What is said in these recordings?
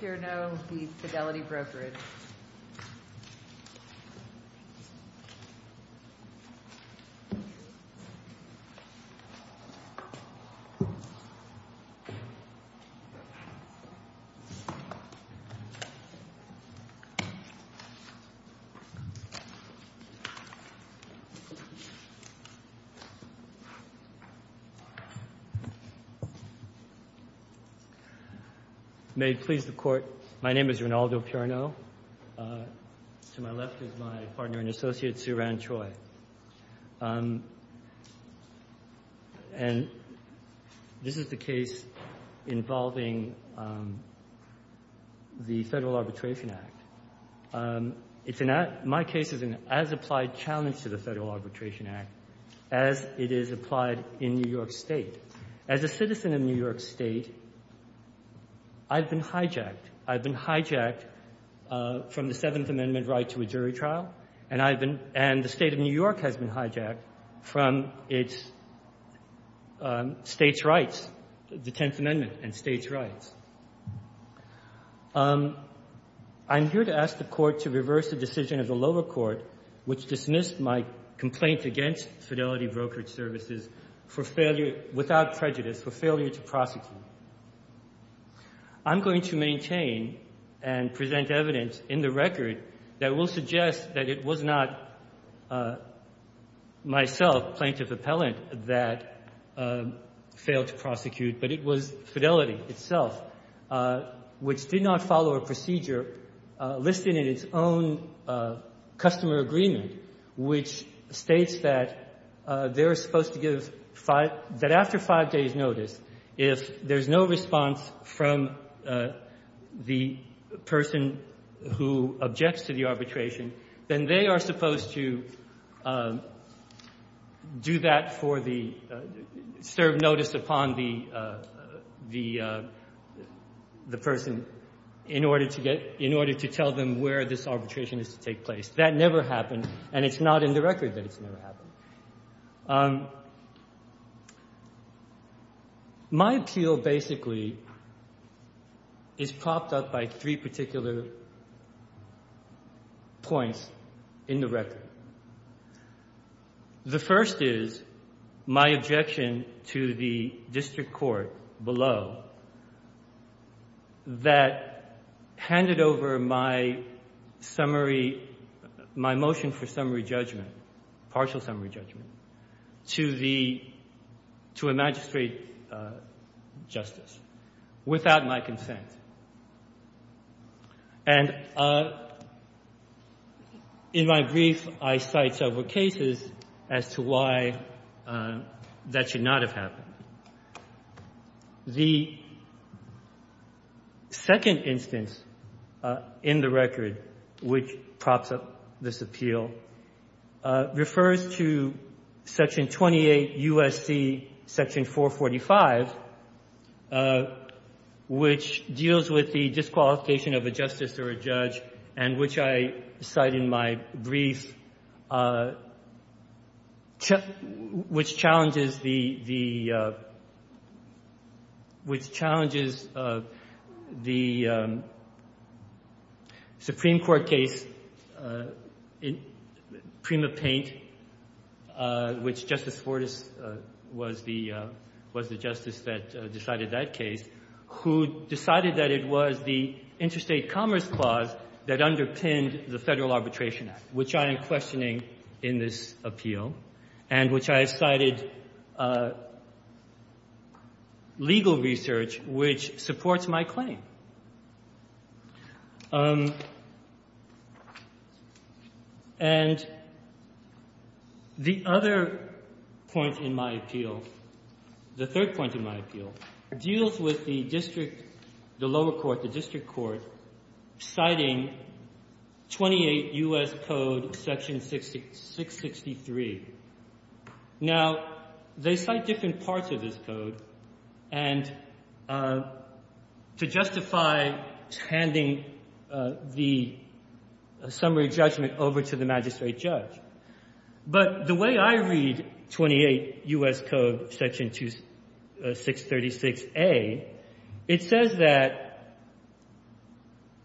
Purno v. Fidelity Brokerage May it please the Court, my name is Rinaldo Purno. To my left is my partner and associate Sue Ranchoi. And this is the case involving the Federal Arbitration Act. My case is an as-applied challenge to the Federal Arbitration Act as it is applied in New York State. As a citizen of New York State, I've been hijacked. I've been hijacked from the Seventh Amendment right to a jury trial. And I've been – and the State of New York has been hijacked from its State's rights, the Tenth Amendment and State's rights. I'm here to ask the Court to reverse a decision of the lower court which dismissed my complaint against Fidelity Brokerage Services for failure, without prejudice, for failure to prosecute. I'm going to maintain and present evidence in the record that will suggest that it was not myself, plaintiff appellant, that failed to prosecute, but it was Fidelity itself, which did not follow a procedure listed in its own customer agreement, which states that they're supposed to give five – that after five days' notice, if there's no response from the person who objects to the arbitration, then they are supposed to do that for the – serve notice upon the person in order to get – in order to tell them where this arbitration is to take place. That never happened, and it's not in the record that it's never happened. My appeal, basically, is propped up by three particular points in the record. The first is my objection to the district court below that handed over my summary – my motion for summary judgment, partial summary judgment, to the – to a magistrate justice without my consent. And in my brief, I cite several cases as to why that should not have happened. The second instance in the record which props up this appeal refers to Section 28 U.S.C. Section 445, which deals with the disqualification of a justice or a judge and which I cite in my brief, which challenges the – which challenges the Supreme Court case in Prima Paint, which Justice Fortas was the – was the justice that decided that case, who decided that it was the Interstate Commerce Clause that underpinned the Federal Arbitration Act, which I am questioning in this appeal, and which I have cited legal research which supports my claim. And the other point in my appeal, the third point in my appeal, deals with the district – the lower court, the district court citing 28 U.S. Code Section 663. Now, they cite different parts of this code and to justify handing the summary judgment over to the magistrate judge. But the way I read 28 U.S. Code Section 636a, it says that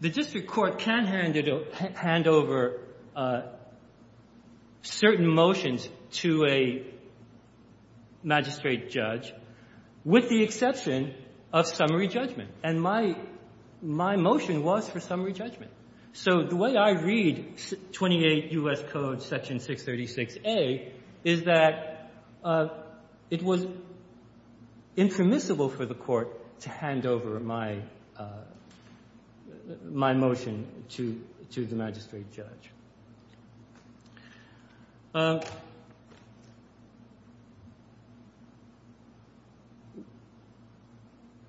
the district court can't hand over certain motions to a magistrate judge with the exception of summary judgment, and my motion was for summary judgment. So the way I read 28 U.S. Code Section 636a is that it was impermissible for the court to hand over my – my motion to – to the magistrate judge.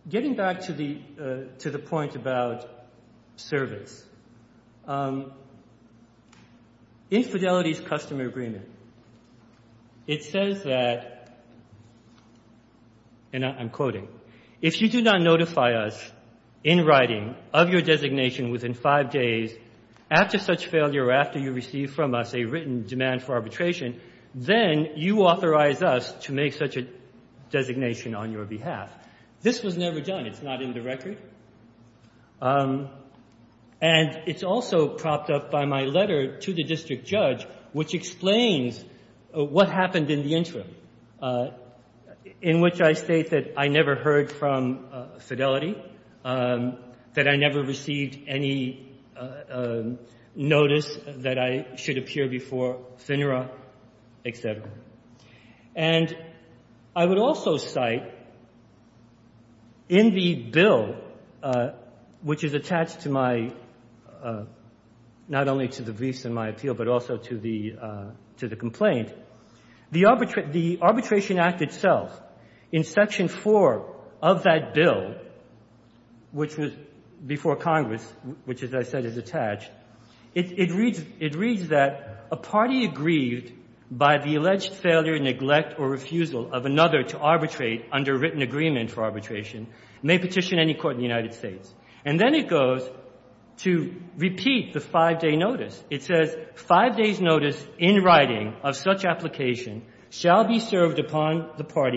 Getting back to the – to the point about service, infidelity is customer agreement. It says that – and I'm quoting – if you do not notify us in writing of your designation within five days after such failure or after you receive from us a written demand for arbitration, then you authorize us to make such a designation on your behalf. This was never done. It's not in the record. And it's also propped up by my letter to the district judge which explains what happened in the interim, in which I state that I never heard from Fidelity, that I never received any notice that I should appear before FINRA, et cetera. And I would also cite in the bill which is attached to my – not only to the briefs in my appeal, but also to the – to the complaint, the arbitration – the Arbitration Act itself, in Section 4, it states that the arbitration before – of that bill, which was before Congress, which, as I said, is attached, it – it reads – it reads that a party aggrieved by the alleged failure, neglect, or refusal of another to arbitrate under written agreement for arbitration may petition any court in the United States. And then it goes to repeat the five-day notice. It says, five days' notice in writing of such application shall be served upon the court.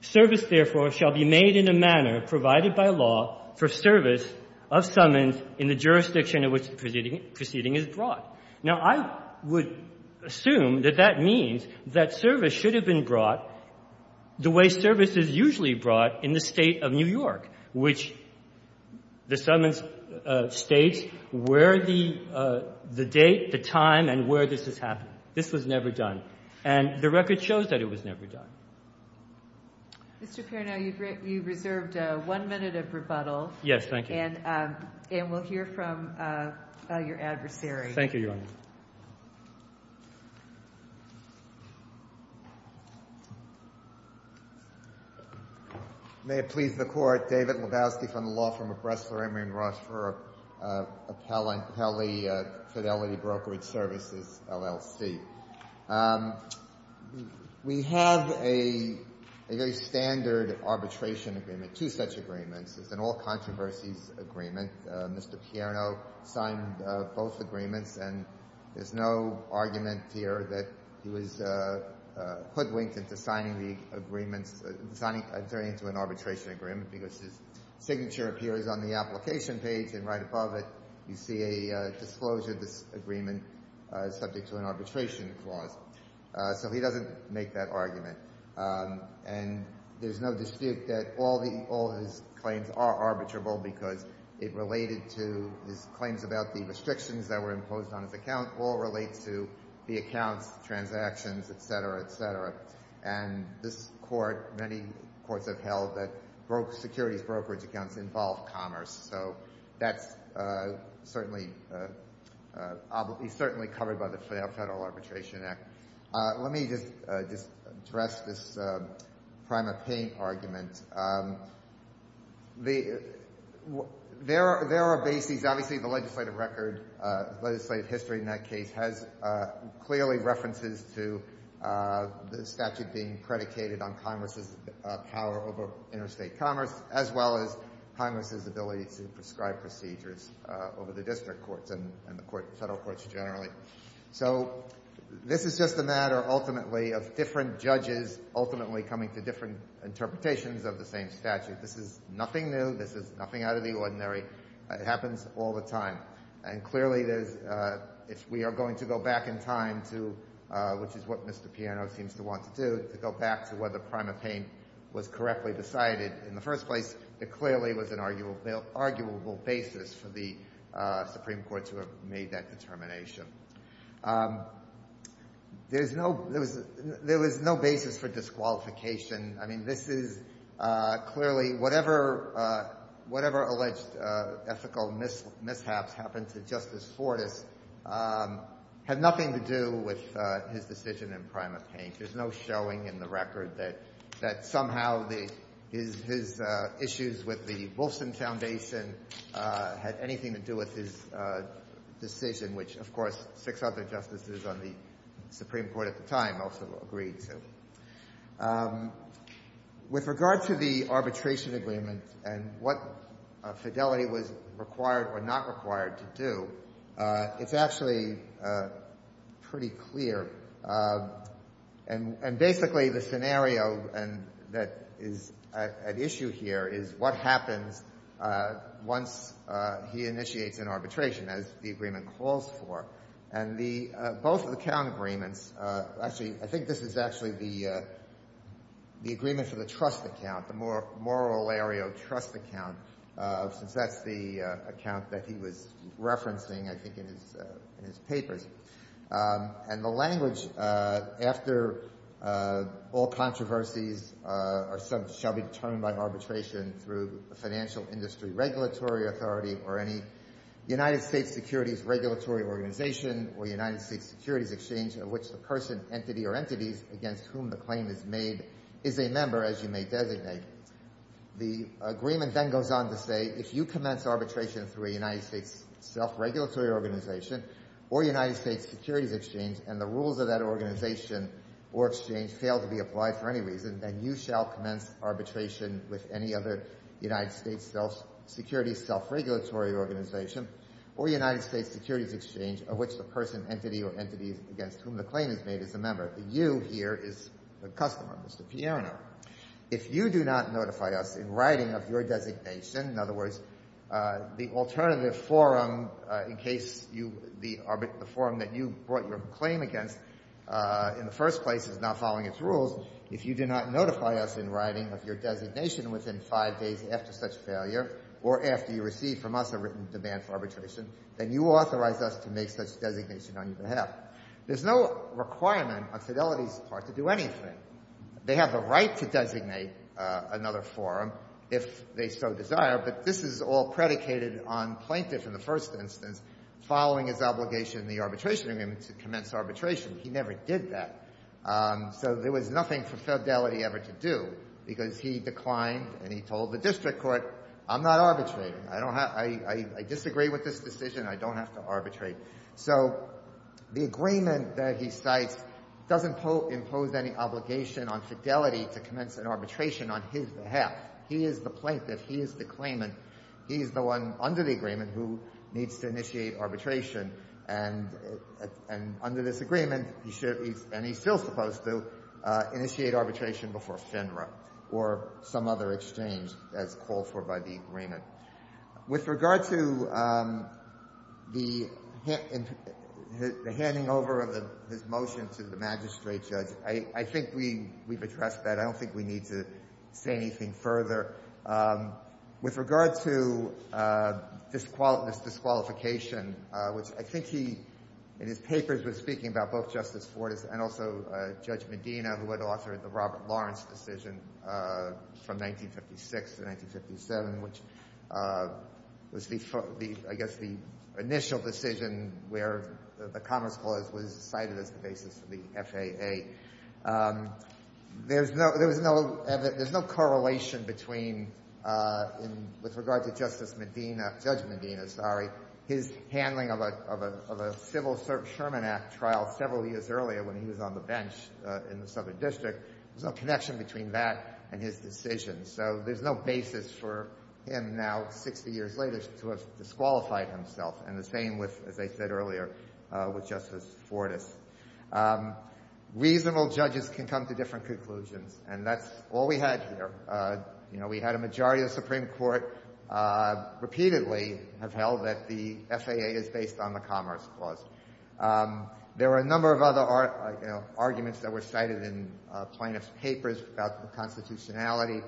Service, therefore, shall be made in a manner provided by law for service of summons in the jurisdiction in which the proceeding is brought. Now, I would assume that that means that service should have been brought the way service is usually brought in the State of New York, which the summons states where the – the date, the time, and where this has happened. This was never done. And the record shows that it was never done. Mr. Pernow, you've reserved one minute of rebuttal. Yes, thank you. And we'll hear from your adversary. Thank you, Your Honor. May it please the Court. David Lebowski from the Law Firm of Bressler, Emory & Roche for Appellee Fidelity Brokerage Services, LLC. We have a very standard arbitration agreement, two such agreements. It's an all-controversies agreement. Mr. Pernow signed both agreements, and there's no argument here that he was hoodwinked into signing the agreements – signing – entering into an arbitration agreement because his signature appears on the application page, and right above it, you see a disclosure of this agreement subject to an arbitration clause. So he doesn't make that argument. And there's no dispute that all the – all his claims are arbitrable because it related to – his claims about the restrictions that were imposed on his account all relate to the accounts, transactions, et cetera, et cetera. And this Court – many courts have held that securities brokerage accounts involve commerce, so that's certainly – he's certainly covered by the Federal Arbitration Act. Let me just address this prime-of-paying argument. There are bases – obviously, the legislative record – legislative history in that case has clearly references to the statute being predicated on commerce's power over interstate commerce, as well as Congress's ability to prescribe procedures over the district courts and the court – federal courts generally. So this is just a matter, ultimately, of different judges ultimately coming to different interpretations of the same statute. This is nothing new. This is nothing out of the ordinary. It happens all the time. And clearly, there's – if we are going to go back in time to – which is what Mr. Piano seems to want to do, to go back to whether prime-of-paying was correctly decided in the first place, it clearly was an arguable basis for the Supreme Court to have made that determination. There's no – there was no basis for disqualification. I mean, this is clearly – whatever alleged ethical mishaps happened to Justice Fortas had nothing to do with his decision in prime-of-paying. There's no showing in the record that somehow the – his issues with the Wolfson Foundation had anything to do with his decision, which, of course, six other justices on the Supreme Court at the time also agreed to. With regard to the arbitration agreement and what Fidel was required or not required to do, it's actually pretty clear. And basically, the scenario that is at issue here is what happens once he initiates an arbitration, as the agreement calls for. And the – both of the count agreements – actually, I think this is actually the agreement for the trust account, the Morrill-Ario trust account, since that's the account that he was referencing, I think, in his papers. And the language after all controversies are – shall be determined by arbitration through a financial industry regulatory authority or any United States securities regulatory organization or United States securities exchange of which the person, entity, or entity against whom the claim is made is a member. The agreement then goes on to say if you commence arbitration through a United States self-regulatory organization or United States securities exchange and the rules of that organization or exchange fail to be applied for any reason, then you shall commence arbitration with any other United States self-security, self-regulatory organization, or United States securities exchange of which the person, entity, or entity against whom the claim is made is a member. The you here is the customer, Mr. Pierano. If you do not notify us in writing of your designation – in other words, the alternative forum in case you – the forum that you brought your claim against in the first place is now following its rules – if you do not notify us in writing of your designation within five days after such failure or after you receive from us a written demand for arbitration, then you authorize us to make such designation on your behalf. There's no requirement on Fidelity's part to do anything. They have the right to designate another forum if they so desire, but this is all predicated on plaintiff in the first instance following his obligation in the arbitration agreement to commence arbitration. He never did that. So there was nothing for Fidelity ever to do because he declined and he told the district court, I'm not arbitrating. I don't have – I disagree with this decision. I don't have to arbitrate. So the agreement that he cites doesn't impose any obligation on Fidelity to commence an arbitration on his behalf. He is the plaintiff. He is the claimant. He is the one under the agreement who needs to initiate arbitration. And under this agreement, he should – and he's still supposed to – initiate arbitration before FINRA or some other exchange as called for by the agreement. With regard to the handing over of his motion to the magistrate judge, I think we've addressed that. I don't think we need to say anything further. With regard to disqualification, which I think he in his and also Judge Medina, who had authored the Robert Lawrence decision from 1956 to 1957, which was the – I guess the initial decision where the Commerce Clause was cited as the basis for the FAA, there's no – there was no – there's no correlation between in – with regard to Justice Medina – Judge Medina, sorry, his handling of a – of a civil Sherman Act trial several years earlier when he was on the bench in the Southern District, there's no connection between that and his decision. So there's no basis for him now, 60 years later, to have disqualified himself, and the same with, as I said earlier, with Justice Fortas. Reasonable judges can come to different conclusions, and that's all we had here. You know, we had a majority of the Supreme Court repeatedly have held that the FAA is based on the Commerce Clause. There were a number of other arguments that were cited in plaintiff's papers about the constitutionality.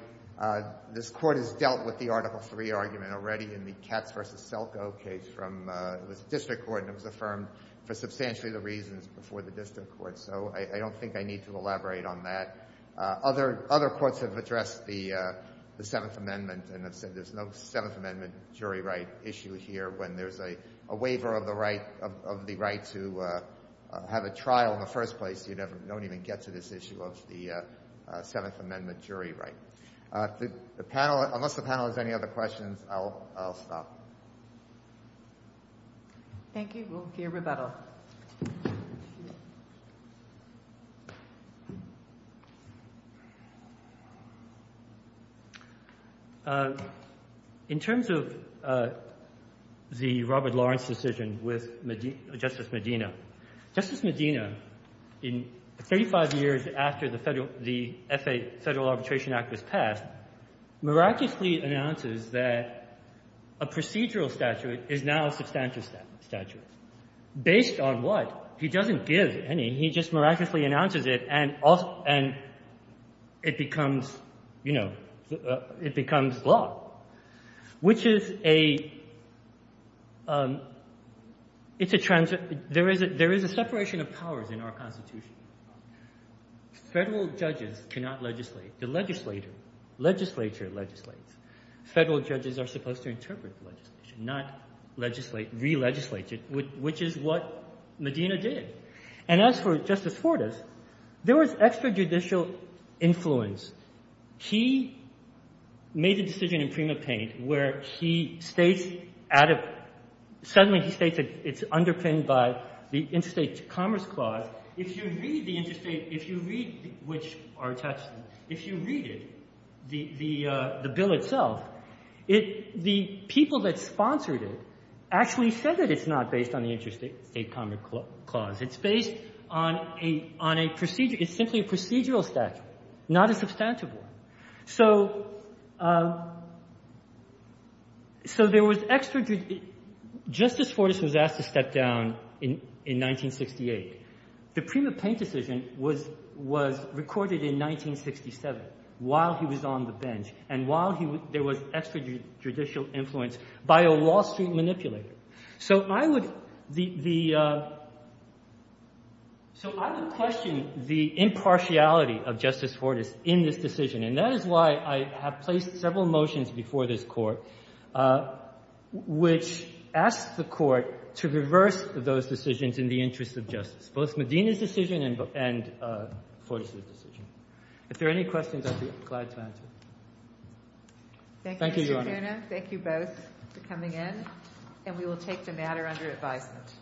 This Court has dealt with the Article III argument already in the Katz v. Selko case from – it was a district court, and it was affirmed for substantially the reasons before the district court. So I don't think I need to elaborate on that. Other – other courts have addressed the – the Seventh Amendment and have said there's no Seventh Amendment jury right issue here. When there's a waiver of the right – of the right to have a trial in the first place, you never – don't even get to this issue of the Seventh Amendment jury right. The panel – unless the panel has any other questions, I'll – I'll stop. Thank you. We'll hear rebuttal. In terms of the Robert Lawrence decision with Medina – Justice Medina, Justice Medina in 35 years after the Federal – the FAA – Federal Arbitration Act was passed, miraculously announces that a procedural statute is now a substantive statute. Based on what? He doesn't give any. He just miraculously announces it and – and it becomes, you know, it becomes law, which is a – it's a – there is a – there is a separation of powers in our Constitution. Federal judges cannot legislate. The legislator – legislature legislates. Federal judges are supposed to interpret the legislation, not legislate – re-legislate it, which is what Medina did. And as for Justice Fortas, there was extrajudicial influence. He made the decision in Prima Paint where he states out of – suddenly he states that it's underpinned by the Interstate Commerce Clause. If you read the Interstate – if you read – which are attached – if you read it, the – the bill itself, it – the people that sponsored it actually said that it's not based on the Interstate Commerce Clause. It's based on a – on a procedural – it's simply a procedural statute, not a substantive one. So – so there was – Justice Fortas was asked to step down in – in 1968. The Prima Paint decision was – was recorded in 1967 while he was on the bench and while he – there was extrajudicial influence by a Wall Street manipulator. So I would – the – so I would question the impartiality of Justice Fortas in this case. And that is why I have placed several motions before this Court which asks the Court to reverse those decisions in the interest of justice, both Medina's decision and Fortas's decision. If there are any questions, I'd be glad to answer. Thank you, Your Honor. Thank you, Mr. Kuna. Thank you both for coming in. And we will take the matter under advisement.